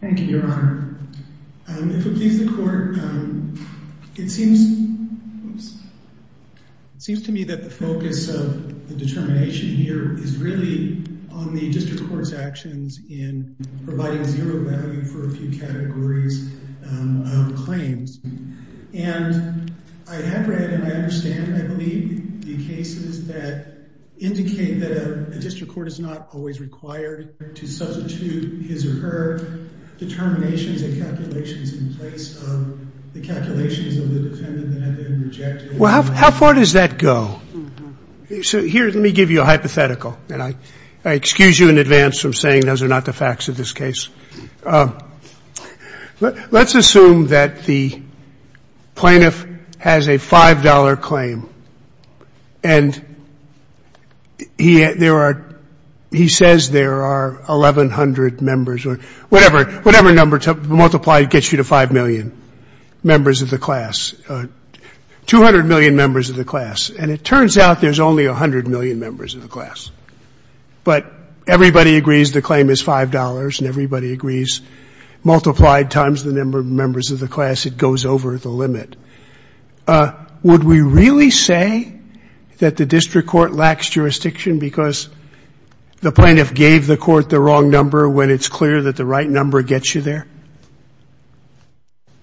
Thank you, Your Honor. If it pleases the Court, it seems to me that the focus of the determination here is really on the District Court's actions in providing zero value for a few categories of claims. And I have read and I understand, I believe, the cases that indicate that a District Court is not always required to substitute his or her determinations and calculations in place of the calculations of the defendant that have been rejected. Well, how far does that go? So here, let me give you a hypothetical. And I excuse you in advance from saying those are not the facts of this case. Let's assume that the plaintiff has a $5 claim and he says there are 1,100 members or whatever number multiplied gets you to 5 million members of the class, 200 million members of the class. And it turns out there's only 100 million members of the class. But everybody agrees the claim is $5 and everybody agrees multiplied times the number of members of the class, it goes over the limit. Would we really say that the District Court lacks jurisdiction because the plaintiff gave the court the wrong number when it's clear that the right number gets you there?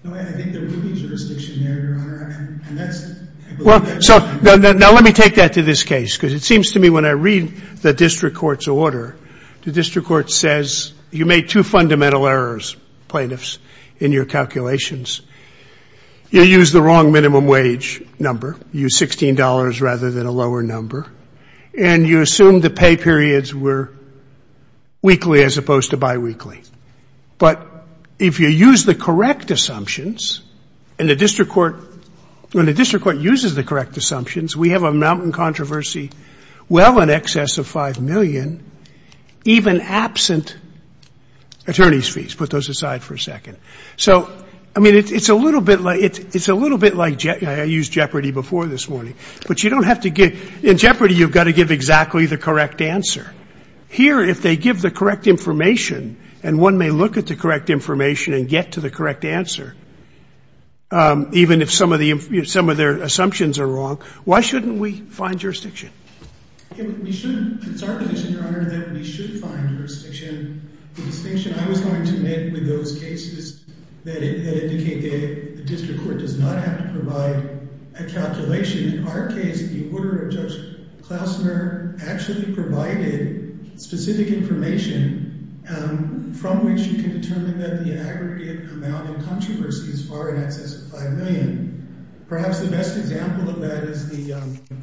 No, I think there would be jurisdiction there, Your Honor. Well, so now let me take that to this case because it seems to me when I read the District Court's order, the District Court says you made two fundamental errors, plaintiffs, in your calculations. You used the wrong minimum wage number. You used $16 rather than a lower number. And you assumed the pay periods were weekly as opposed to biweekly. But if you use the correct assumptions and the District Court uses the correct assumptions, we have a mountain controversy well in excess of 5 million, even absent attorneys' fees. Put those aside for a second. So, I mean, it's a little bit like I used Jeopardy before this morning. But you don't have to give – in Jeopardy, you've got to give exactly the correct answer. Here, if they give the correct information and one may look at the correct information and get to the correct answer, even if some of their assumptions are wrong, why shouldn't we find jurisdiction? We shouldn't. It's our position, Your Honor, that we should find jurisdiction. The distinction I was going to make with those cases that indicate the District Court does not have to provide a calculation. In our case, the order of Judge Klausner actually provided specific information from which you can determine that the aggregate amount in controversy is far in excess of 5 million. Perhaps the best example of that is the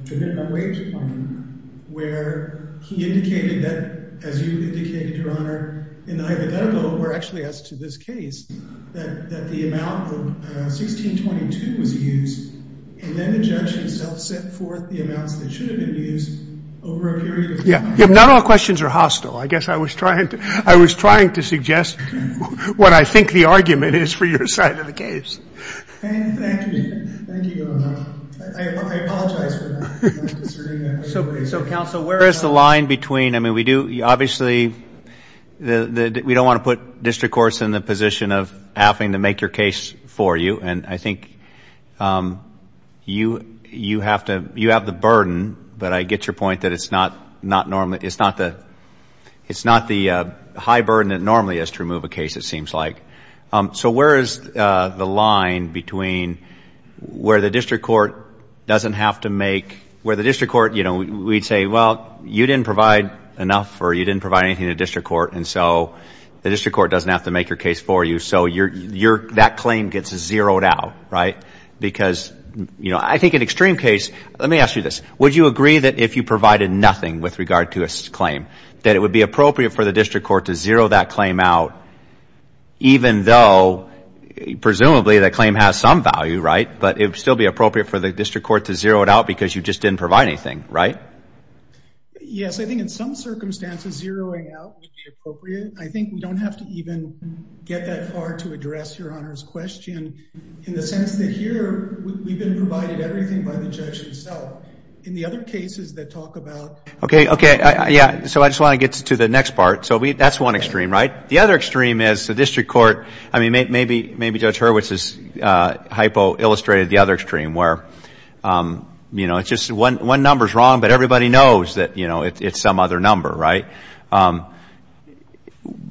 Trinidad Wage Claim, where he indicated that, as you indicated, Your Honor, in the hypothetical, or actually as to this case, that the amount of 1622 was used. And then the judge himself set forth the amounts that should have been used over a period of time. Yeah, not all questions are hostile. I guess I was trying to suggest what I think the argument is for your side of the case. Thank you. Thank you, Your Honor. I apologize for that. So, Counsel, where is the line between, I mean, we do, obviously, we don't want to put District Courts in the position of having to make your case for you. And I think you have the burden, but I get your point that it's not the high burden it normally is to remove a case, it seems like. So where is the line between where the District Court doesn't have to make, where the District Court, you know, we'd say, well, you didn't provide enough or you didn't provide anything to the District Court, and so the District Court doesn't have to make your case for you, so that claim gets zeroed out, right? Because, you know, I think an extreme case, let me ask you this, would you agree that if you provided nothing with regard to a claim, that it would be appropriate for the District Court to zero that claim out even though presumably that claim has some value, right? But it would still be appropriate for the District Court to zero it out because you just didn't provide anything, right? Yes, I think in some circumstances zeroing out would be appropriate. I think we don't have to even get that far to address Your Honor's question in the sense that here we've been provided everything by the judge himself. In the other cases that talk about Okay, okay. Yeah, so I just want to get to the next part. So that's one extreme, right? The other extreme is the District Court, I mean, maybe Judge Hurwitz has hypo-illustrated the other extreme where, you know, it's just one number's wrong, but everybody knows that, you know, it's some other number, right?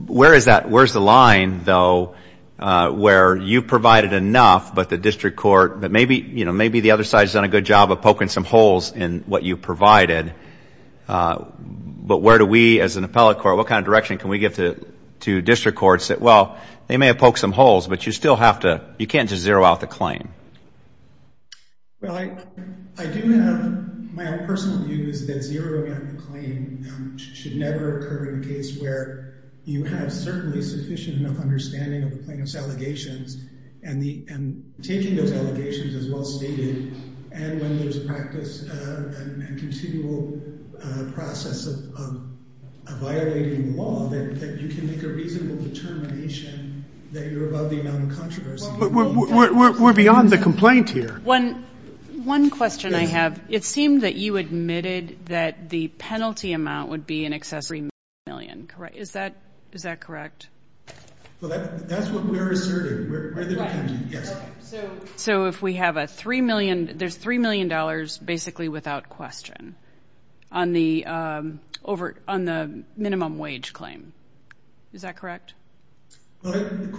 Where is that, where's the line, though, where you provided enough, but the District Court, but maybe, you know, maybe the other side's done a good job of poking some holes in what you provided, but where do we as an appellate court, what kind of direction can we give to District Courts that, well, they may have poked some holes, but you still have to, you can't just zero out the claim. Well, I do have, my own personal view is that zeroing out the claim should never occur in a case where you have certainly sufficient enough and taking those allegations as well stated and when there's practice and continual process of violating the law, that you can make a reasonable determination that you're above the amount of controversy. We're beyond the complaint here. One question I have. It seemed that you admitted that the penalty amount would be in excess of $3 million, correct? Is that correct? Well, that's what we're asserting. So if we have a $3 million, there's $3 million basically without question on the minimum wage claim. Is that correct? Well, the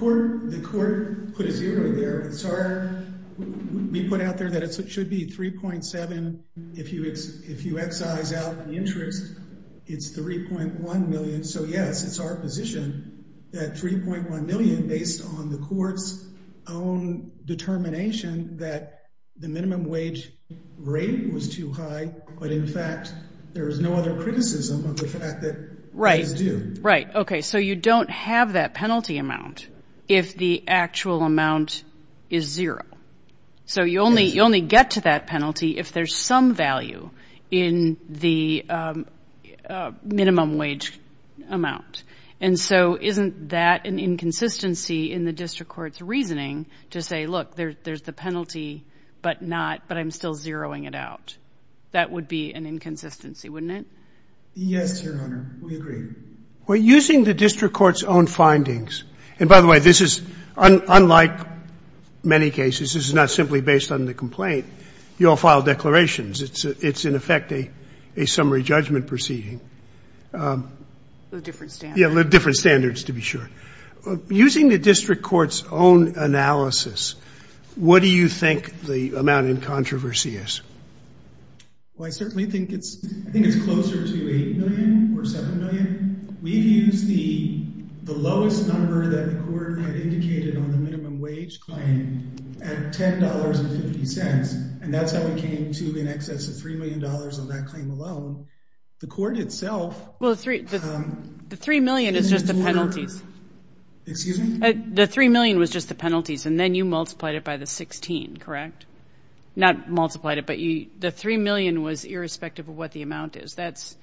court put a zero there. It's our, we put out there that it should be 3.7. If you excise out the interest, it's $3.1 million. So, yes, it's our position that $3.1 million based on the court's own determination that the minimum wage rate was too high, but in fact there is no other criticism of the fact that it is due. Right. Okay, so you don't have that penalty amount if the actual amount is zero. So you only get to that penalty if there's some value in the minimum wage amount. And so isn't that an inconsistency in the district court's reasoning to say, look, there's the penalty but not, but I'm still zeroing it out? That would be an inconsistency, wouldn't it? Yes, Your Honor, we agree. We're using the district court's own findings. And by the way, this is unlike many cases. This is not simply based on the complaint. You all filed declarations. It's in effect a summary judgment proceeding. A different standard. Yeah, different standards to be sure. Using the district court's own analysis, what do you think the amount in controversy is? Well, I certainly think it's, I think it's closer to $8 million or $7 million. We've used the lowest number that the court had indicated on the minimum wage claim at $10.50. And that's how we came to in excess of $3 million on that claim alone. The court itself. Well, the $3 million is just the penalties. Excuse me? The $3 million was just the penalties, and then you multiplied it by the $16, correct? Not multiplied it, but the $3 million was irrespective of what the amount is. That's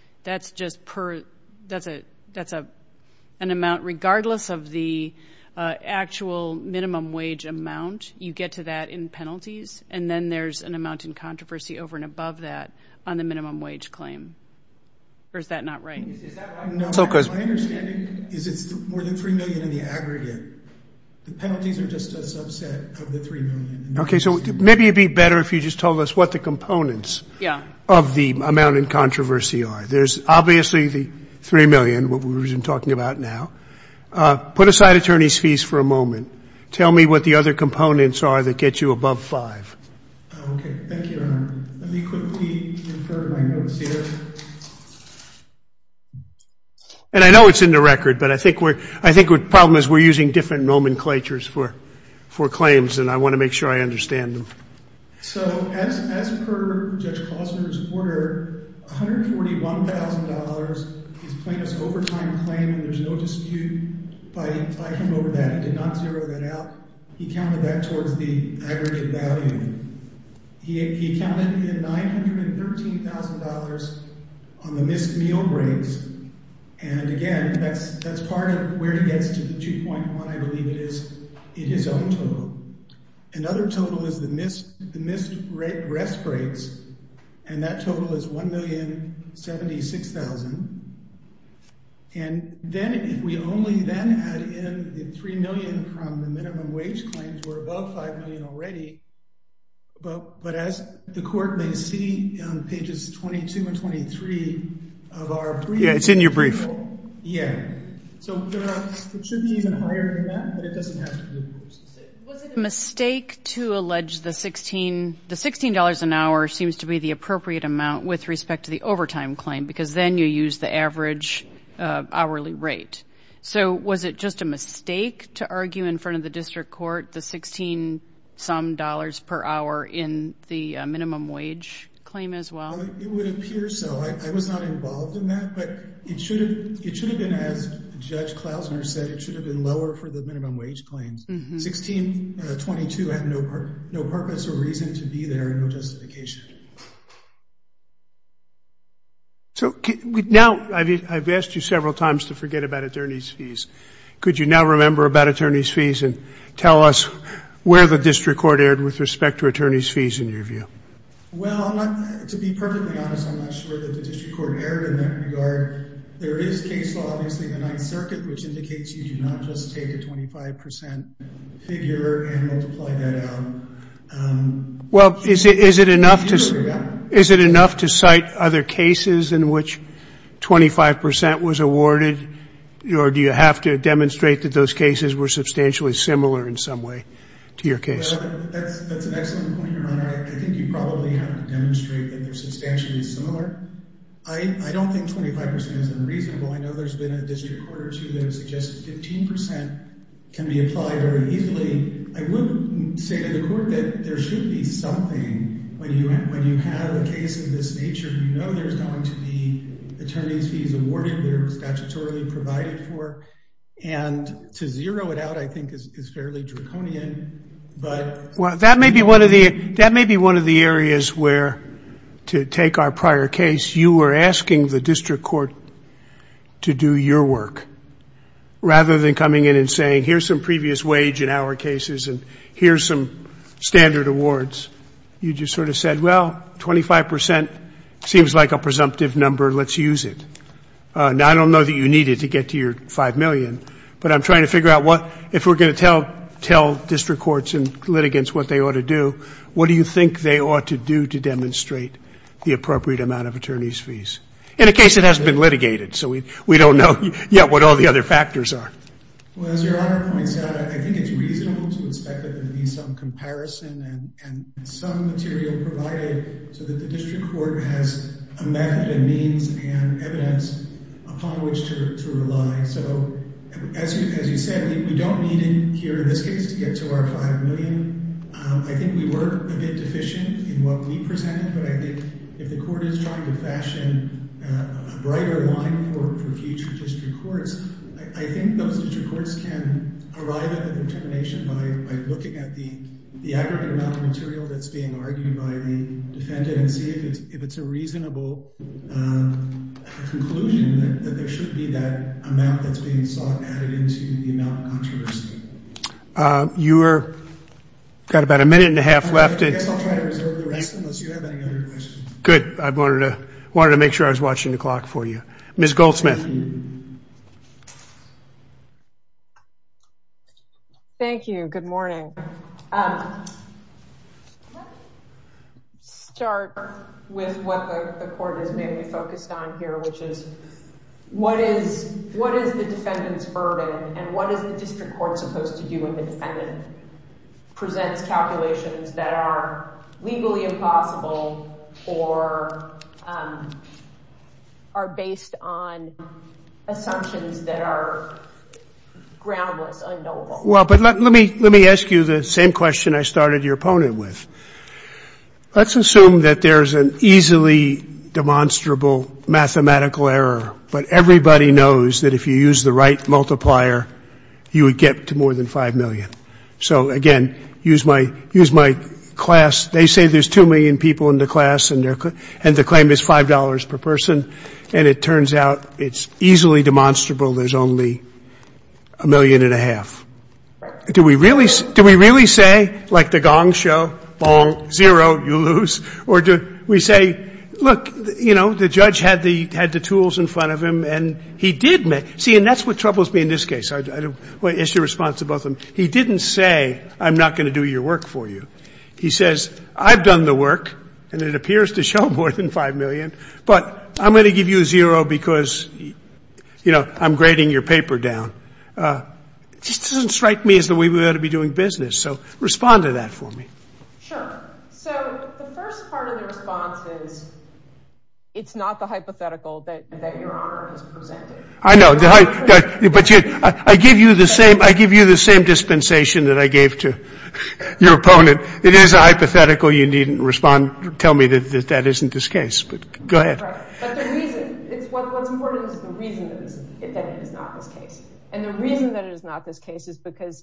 just per, that's an amount regardless of the actual minimum wage amount. You get to that in penalties, and then there's an amount in controversy over and above that on the minimum wage claim. Or is that not right? My understanding is it's more than $3 million in the aggregate. The penalties are just a subset of the $3 million. Okay. So maybe it would be better if you just told us what the components of the amount in controversy are. There's obviously the $3 million, what we've been talking about now. Put aside attorney's fees for a moment. Tell me what the other components are that get you above $5. Okay. Thank you, Your Honor. Let me quickly infer my notes here. And I know it's in the record, but I think the problem is we're using different nomenclatures for claims, and I want to make sure I understand them. So as per Judge Klosner's order, $141,000 is plaintiff's overtime claim, and there's no dispute. But if I come over that, he did not zero that out. He counted that towards the aggregate value. He counted in $913,000 on the missed meal breaks. And, again, that's part of where he gets to the 2.1, I believe it is, in his own total. Another total is the missed breast breaks, and that total is $1,076,000. And then if we only then add in the $3 million from the minimum wage claims, we're above $5 million already. But as the Court may see on Pages 22 and 23 of our brief. Yeah, it's in your brief. Yeah. So it should be even higher than that, but it doesn't have to be. Was it a mistake to allege the $16 an hour seems to be the appropriate amount with respect to the overtime claim? Because then you use the average hourly rate. So was it just a mistake to argue in front of the district court the $16-some per hour in the minimum wage claim as well? It would appear so. I was not involved in that. But it should have been, as Judge Klausner said, it should have been lower for the minimum wage claims. $16.22 had no purpose or reason to be there, no justification. So now I've asked you several times to forget about attorney's fees. Could you now remember about attorney's fees and tell us where the district court erred with respect to attorney's fees in your view? Well, to be perfectly honest, I'm not sure that the district court erred in that regard. There is case law, obviously, in the Ninth Circuit, which indicates you do not just take a 25 percent figure and multiply that out. Well, is it enough to cite other cases in which 25 percent was awarded, or do you have to demonstrate that those cases were substantially similar in some way to your case? That's an excellent point, Your Honor. I think you probably have to demonstrate that they're substantially similar. I don't think 25 percent is unreasonable. I know there's been a district court or two that have suggested 15 percent can be applied very easily. I would say to the court that there should be something. When you have a case of this nature, you know there's going to be attorney's fees awarded. They're statutorily provided for. And to zero it out, I think, is fairly draconian. Well, that may be one of the areas where, to take our prior case, you were asking the district court to do your work, rather than coming in and saying, here's some previous wage in our cases and here's some standard awards. You just sort of said, well, 25 percent seems like a presumptive number, let's use it. Now, I don't know that you need it to get to your 5 million, but I'm trying to figure out what, if we're going to tell district courts and litigants what they ought to do, what do you think they ought to do to demonstrate the appropriate amount of attorney's fees? In a case that hasn't been litigated, so we don't know yet what all the other factors are. Well, as Your Honor points out, I think it's reasonable to expect there to be some comparison and some material provided so that the district court has a method and means and evidence upon which to rely. So, as you said, we don't need it here in this case to get to our 5 million. I think we were a bit deficient in what we presented, but I think if the court is trying to fashion a brighter line for future district courts, I think those district courts can arrive at the determination by looking at the aggregate amount of material that's being argued by the defendant and see if it's a reasonable conclusion that there should be that amount that's being sought added into the amount of controversy. You've got about a minute and a half left. I guess I'll try to reserve the rest unless you have any other questions. Good. I wanted to make sure I was watching the clock for you. Ms. Goldsmith. Thank you. Good morning. Let me start with what the court has mainly focused on here, which is what is the defendant's burden and what is the district court supposed to do when the defendant presents calculations that are legally impossible or are based on assumptions that are groundless, unknowable? Well, but let me ask you the same question I started your opponent with. Let's assume that there's an easily demonstrable mathematical error, but everybody knows that if you use the right multiplier, you would get to more than 5 million. So, again, use my class. They say there's 2 million people in the class and the claim is $5 per person, and it turns out it's easily demonstrable there's only a million and a half. Do we really say, like the gong show, bong, zero, you lose? Or do we say, look, you know, the judge had the tools in front of him, and he did make — see, and that's what troubles me in this case. What is your response to both of them? He didn't say, I'm not going to do your work for you. He says, I've done the work, and it appears to show more than 5 million, but I'm going to give you a zero because, you know, I'm grading your paper down. It just doesn't strike me as the way we ought to be doing business. So respond to that for me. Sure. So the first part of the response is it's not the hypothetical that Your Honor has presented. I know, but I give you the same dispensation that I gave to your opponent. It is a hypothetical. You needn't respond, tell me that that isn't this case, but go ahead. Right, but the reason, what's important is the reason that it is not this case, and the reason that it is not this case is because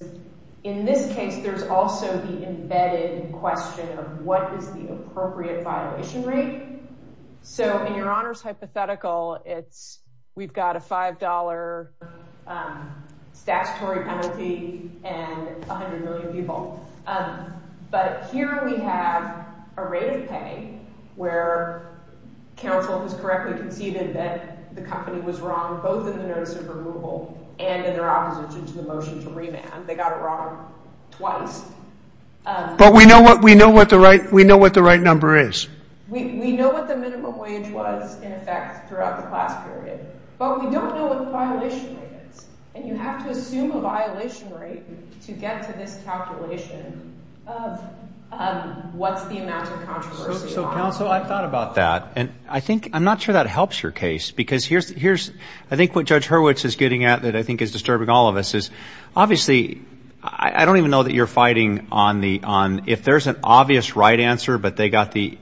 in this case, there's also the embedded question of what is the appropriate violation rate. So in Your Honor's hypothetical, it's we've got a $5 statutory penalty and 100 million people. But here we have a rate of pay where counsel has correctly conceded that the company was wrong, both in the notice of removal and in their opposition to the motion to revamp. They got it wrong twice. But we know what the right number is. We know what the minimum wage was in effect throughout the class period, but we don't know what the violation rate is. And you have to assume a violation rate to get to this calculation of what's the amount of controversy. So, counsel, I've thought about that, and I think I'm not sure that helps your case because I think what Judge Hurwitz is getting at that I think is disturbing all of us is, obviously, I don't even know that you're fighting on if there's an obvious right answer, but they got the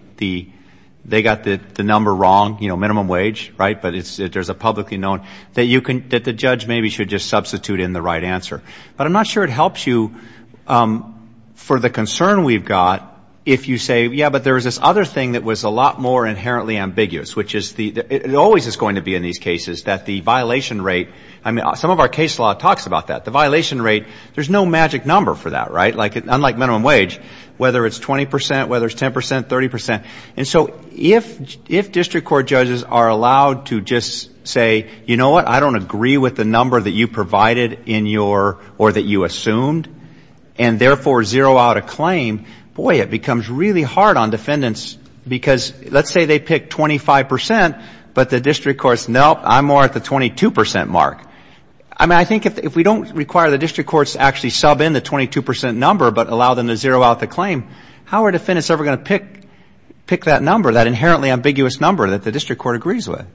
number wrong, you know, minimum wage, right, but there's a publicly known that the judge maybe should just substitute in the right answer. But I'm not sure it helps you for the concern we've got if you say, yeah, but there was this other thing that was a lot more inherently ambiguous, which is it always is going to be in these cases that the violation rate, I mean, some of our case law talks about that. The violation rate, there's no magic number for that, right? Unlike minimum wage, whether it's 20 percent, whether it's 10 percent, 30 percent. And so if district court judges are allowed to just say, you know what, I don't agree with the number that you provided in your or that you assumed, and therefore zero out a claim, boy, it becomes really hard on defendants because let's say they pick 25 percent, but the district courts, nope, I'm more at the 22 percent mark. I mean, I think if we don't require the district courts to actually sub in the 22 percent number but allow them to zero out the claim, how are defendants ever going to pick that number, that inherently ambiguous number that the district court agrees with?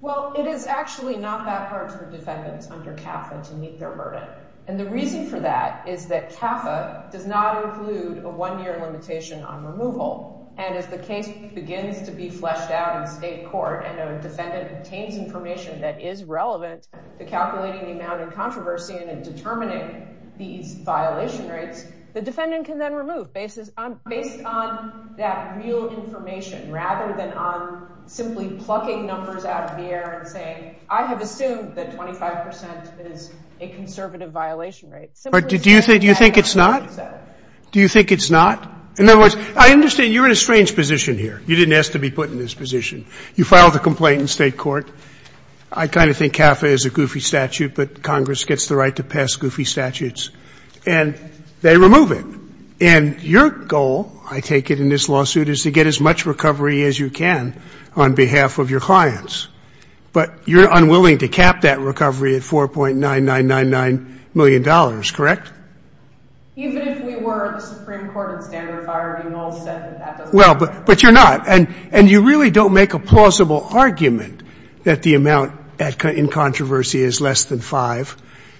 Well, it is actually not that hard for defendants under CAFA to meet their burden. And the reason for that is that CAFA does not include a one-year limitation on removal and as the case begins to be fleshed out in state court and a defendant obtains information that is relevant to calculating the amount of controversy and in determining these violation rates, the defendant can then remove based on that real information rather than on simply plucking numbers out of the air and saying, I have assumed that 25 percent is a conservative violation rate. Do you think it's not? Do you think it's not? In other words, I understand you're in a strange position here. You didn't ask to be put in this position. You filed a complaint in state court. I kind of think CAFA is a goofy statute, but Congress gets the right to pass goofy statutes and they remove it. And your goal, I take it in this lawsuit, is to get as much recovery as you can on behalf of your clients, but you're unwilling to cap that recovery at $4.9999 million, correct? Even if we were the Supreme Court and standard of hiring, Noel said that that doesn't work. Well, but you're not. And you really don't make a plausible argument that the amount in controversy is less than 5.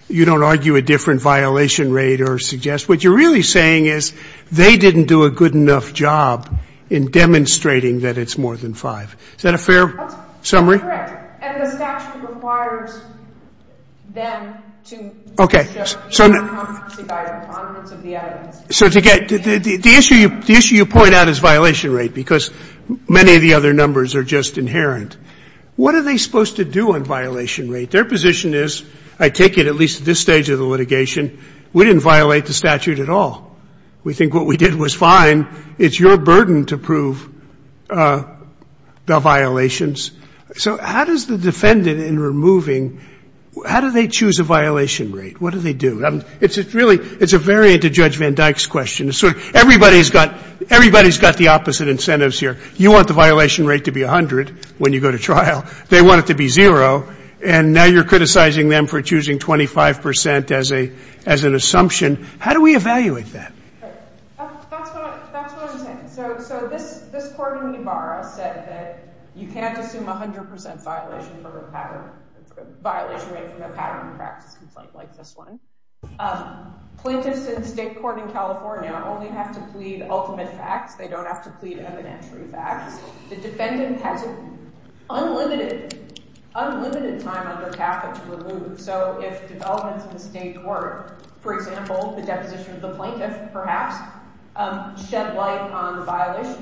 You don't argue a different violation rate or suggest. What you're really saying is they didn't do a good enough job in demonstrating that it's more than 5. Is that a fair summary? Correct. And the statute requires them to show the non-controversy guidance on the evidence. So the issue you point out is violation rate because many of the other numbers are just inherent. What are they supposed to do on violation rate? Their position is, I take it at least at this stage of the litigation, we didn't violate the statute at all. We think what we did was fine. It's your burden to prove the violations. So how does the defendant in removing, how do they choose a violation rate? What do they do? It's a variant of Judge Van Dyke's question. Everybody's got the opposite incentives here. You want the violation rate to be 100 when you go to trial. They want it to be zero. And now you're criticizing them for choosing 25 percent as an assumption. How do we evaluate that? That's what I'm saying. So this court in Ybarra said that you can't assume 100 percent violation rate from a pattern practice complaint like this one. Plaintiffs in state court in California only have to plead ultimate facts. They don't have to plead evidentiary facts. The defendant has unlimited time on their path to remove. So if developments in the state court, for example, the deposition of the violation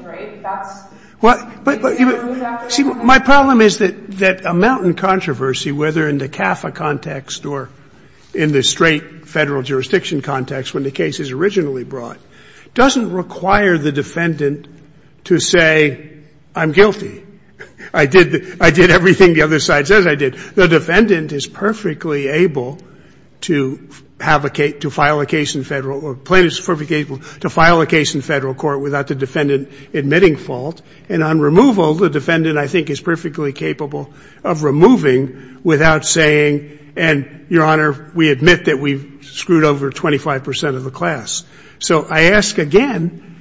rate, that's, you can't remove that. See, my problem is that a mountain controversy, whether in the CAFA context or in the straight Federal jurisdiction context when the case is originally brought, doesn't require the defendant to say, I'm guilty. I did everything the other side says I did. The defendant is perfectly able to have a case, to file a case in Federal, plaintiffs are perfectly able to file a case in Federal court without the defendant admitting fault. And on removal, the defendant, I think, is perfectly capable of removing without saying, and, Your Honor, we admit that we've screwed over 25 percent of the class. So I ask again,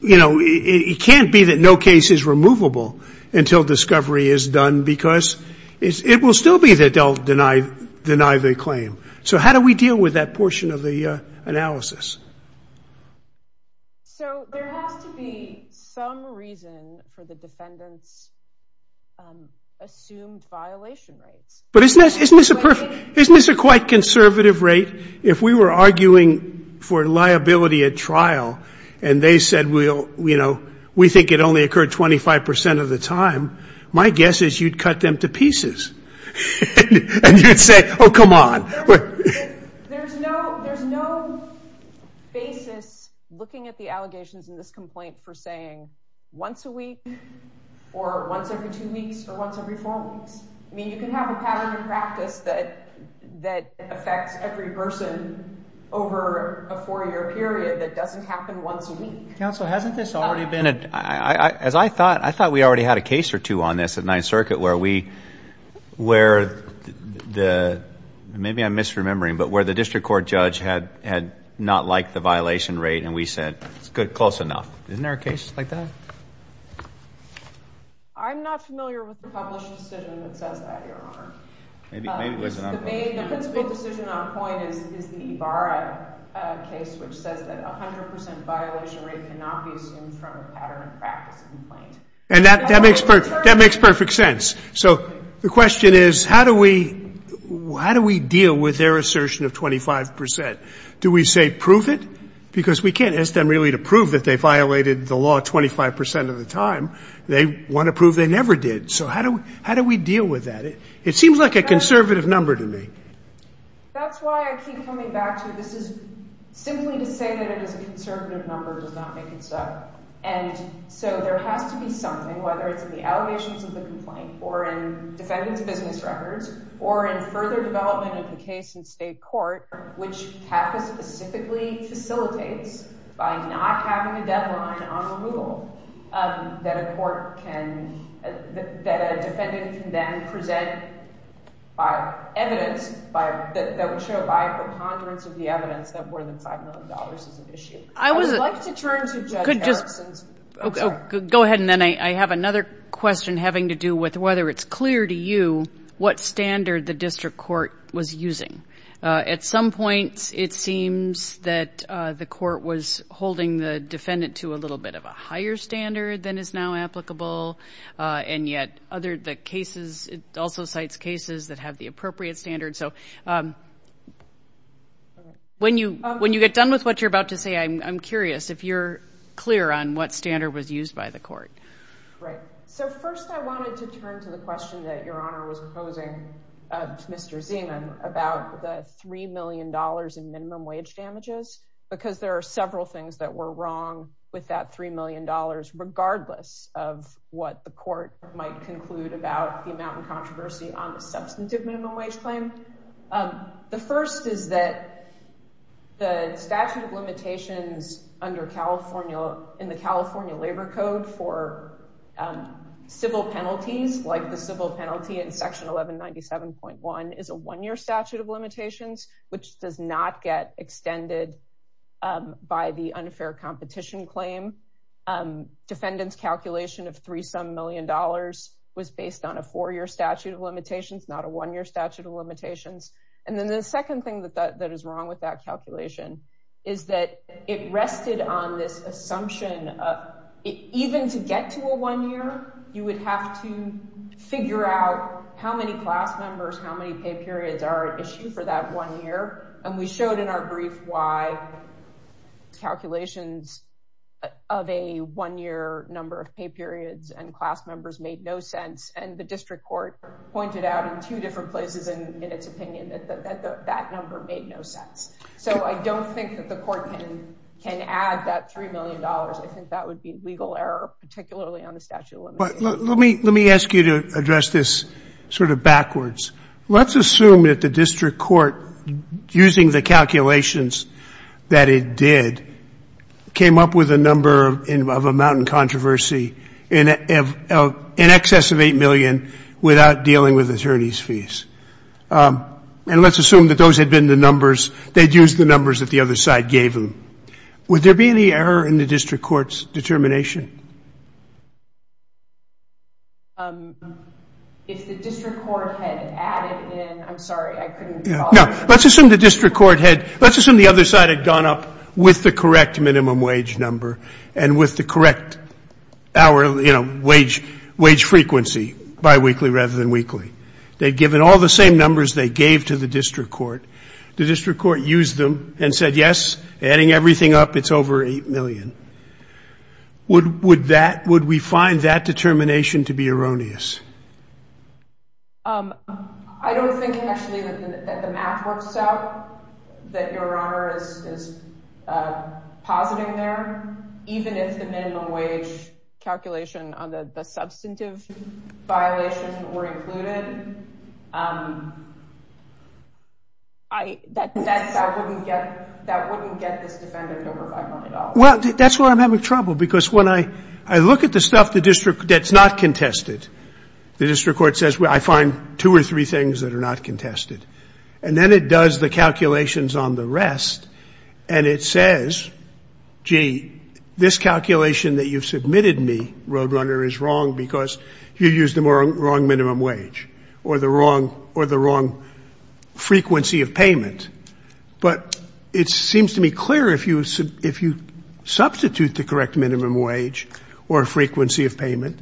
you know, it can't be that no case is removable until discovery is done because it will still be that they'll deny the claim. So how do we deal with that portion of the analysis? So there has to be some reason for the defendant's assumed violation rates. But isn't this a quite conservative rate? If we were arguing for liability at trial and they said, well, you know, we think it only occurred 25 percent of the time, my guess is you'd cut them to pieces and you'd say, oh, come on. There's no basis looking at the allegations in this complaint for saying once a week or once every two weeks or once every four weeks. I mean, you can have a pattern of practice that affects every person over a four-year period that doesn't happen once a week. Counsel, hasn't this already been a, as I thought, I thought we already had a case in the circuit where we, where the, maybe I'm misremembering, but where the district court judge had not liked the violation rate and we said, it's close enough. Isn't there a case like that? I'm not familiar with the published decision that says that, Your Honor. Maybe it was not published. The principal decision on point is the Ibarra case, which says that 100 percent violation rate cannot be assumed from a pattern of practice complaint. And that makes perfect sense. So the question is, how do we deal with their assertion of 25 percent? Do we say prove it? Because we can't ask them really to prove that they violated the law 25 percent of the time. They want to prove they never did. So how do we deal with that? It seems like a conservative number to me. That's why I keep coming back to this is simply to say that it is a conservative number does not make it so. And so there has to be something, whether it's in the allegations of the complaint or in defendant's business records or in further development of the case in state court, which CACA specifically facilitates by not having a deadline on the rule that a court can, that a defendant can then present evidence that would show by a preponderance of the evidence that more than $5 million is at issue. I would like to turn to Judge Harrison. Go ahead. And then I have another question having to do with whether it's clear to you what standard the district court was using. At some point it seems that the court was holding the defendant to a little bit of a higher standard than is now applicable, and yet other cases, it also cites cases that have the appropriate standard. So when you get done with what you're about to say, I'm curious if you're clear on what standard was used by the court. Right. So first I wanted to turn to the question that Your Honor was posing to Mr. Zeman about the $3 million in minimum wage damages because there are several things that were wrong with that $3 million regardless of what the court might conclude about the amount of controversy on the substantive minimum wage claim. The first is that the statute of limitations under California, in the California Labor Code for civil penalties, like the civil penalty in Section 1197.1 is a one-year statute of limitations, which does not get extended by the unfair competition claim. Defendant's calculation of threesome million dollars was based on a four-year statute of limitations, not a one-year statute of limitations. And then the second thing that is wrong with that calculation is that it rested on this assumption of even to get to a one-year, you would have to figure out how many class members, how many pay periods are at issue for that one year. And we showed in our brief why calculations of a one-year number of pay periods and class members made no sense. And the district court pointed out in two different places in its opinion that that number made no sense. So I don't think that the court can add that $3 million. I think that would be legal error, particularly on the statute of limitations. Let me ask you to address this sort of backwards. Let's assume that the district court, using the calculations that it did, came up with a number of amount in controversy, in excess of $8 million without dealing with attorney's fees. And let's assume that those had been the numbers, they'd used the numbers that the other side gave them. Would there be any error in the district court's determination? If the district court had added in, I'm sorry, I couldn't follow. No. Let's assume the district court had, let's assume the other side had gone up with the correct minimum wage number and with the correct hourly, you know, wage frequency, biweekly rather than weekly. They'd given all the same numbers they gave to the district court. The district court used them and said, yes, adding everything up, it's over $8 million. Would we find that determination to be erroneous? I don't think actually that the math works out that Your Honor is positing there. Even if the minimum wage calculation on the substantive violation were included, that wouldn't get this defendant over $5 million. Well, that's where I'm having trouble because when I look at the stuff that's not contested, the district court says, well, I find two or three things that are not contested. And then it does the calculations on the rest and it says, gee, this calculation that you've submitted me, Roadrunner, is wrong because you used the wrong minimum wage or the wrong frequency of payment. But it seems to me clear if you substitute the correct minimum wage or frequency of payment,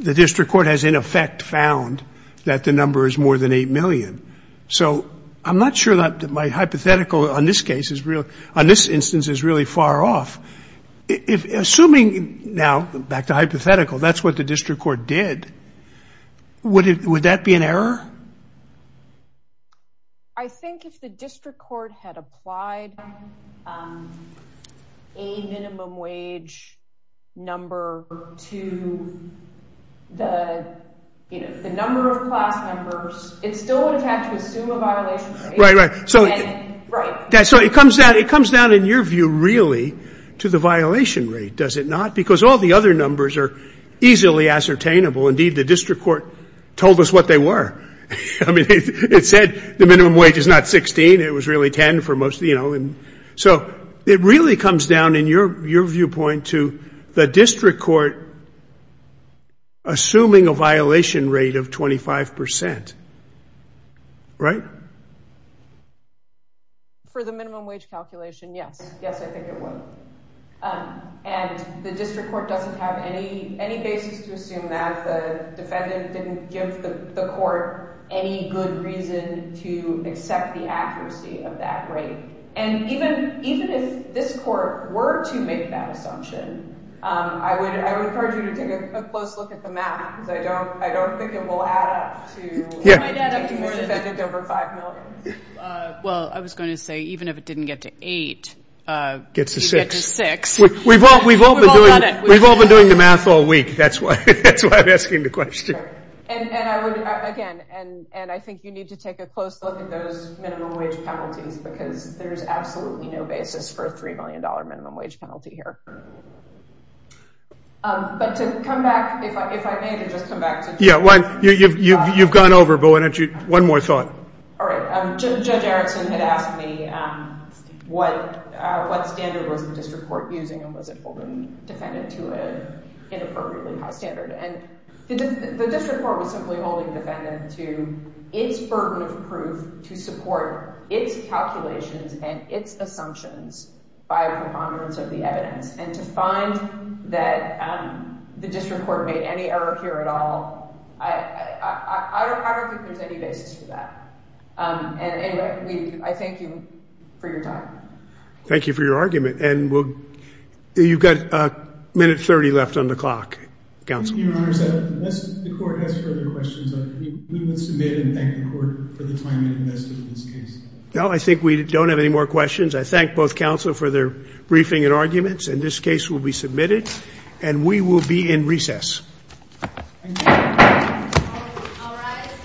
the district court has in effect found that the number is more than $8 million. So I'm not sure that my hypothetical on this case is real, on this instance is really far off. Assuming now, back to hypothetical, that's what the district court did, would that be an error? I think if the district court had applied a minimum wage number to the number of class members, it still would have had to assume a violation rate. Right, right. Right. So it comes down in your view really to the violation rate, does it not? Because all the other numbers are easily ascertainable. Indeed, the district court told us what they were. I mean, it said the minimum wage is not $16, it was really $10 for most, you know. So it really comes down in your viewpoint to the district court assuming a violation rate of 25%. Right? For the minimum wage calculation, yes. Yes, I think it would. And the district court doesn't have any basis to assume that. The defendant didn't give the court any good reason to accept the accuracy of that rate. And even if this court were to make that assumption, I would encourage you to take a close look at the math because I don't think it will add up to taking the defendant over $5 million. Well, I was going to say even if it didn't get to 8, it would get to 6. We've all been doing the math all week. That's why I'm asking the question. And I would, again, and I think you need to take a close look at those minimum wage penalties because there's absolutely no basis for a $3 million minimum wage penalty here. But to come back, if I may, to just come back to... Yeah, you've gone over, but why don't you, one more thought. All right. Judge Erickson had asked me what standard was the district court using and was it holding defendant to an inappropriately high standard. And the district court was simply holding defendant to its burden of proof to support its calculations and its assumptions by a preponderance of the evidence. And to find that the district court made any error here at all, I don't think there's any basis for that. And anyway, I thank you for your time. Thank you for your argument. And you've got a minute 30 left on the clock, counsel. Your Honor, unless the court has further questions, we will submit and thank the court for the time it invested in this case. No, I think we don't have any more questions. I thank both counsel for their briefing and arguments. And this case will be submitted. And we will be in recess. Thank you. All rise.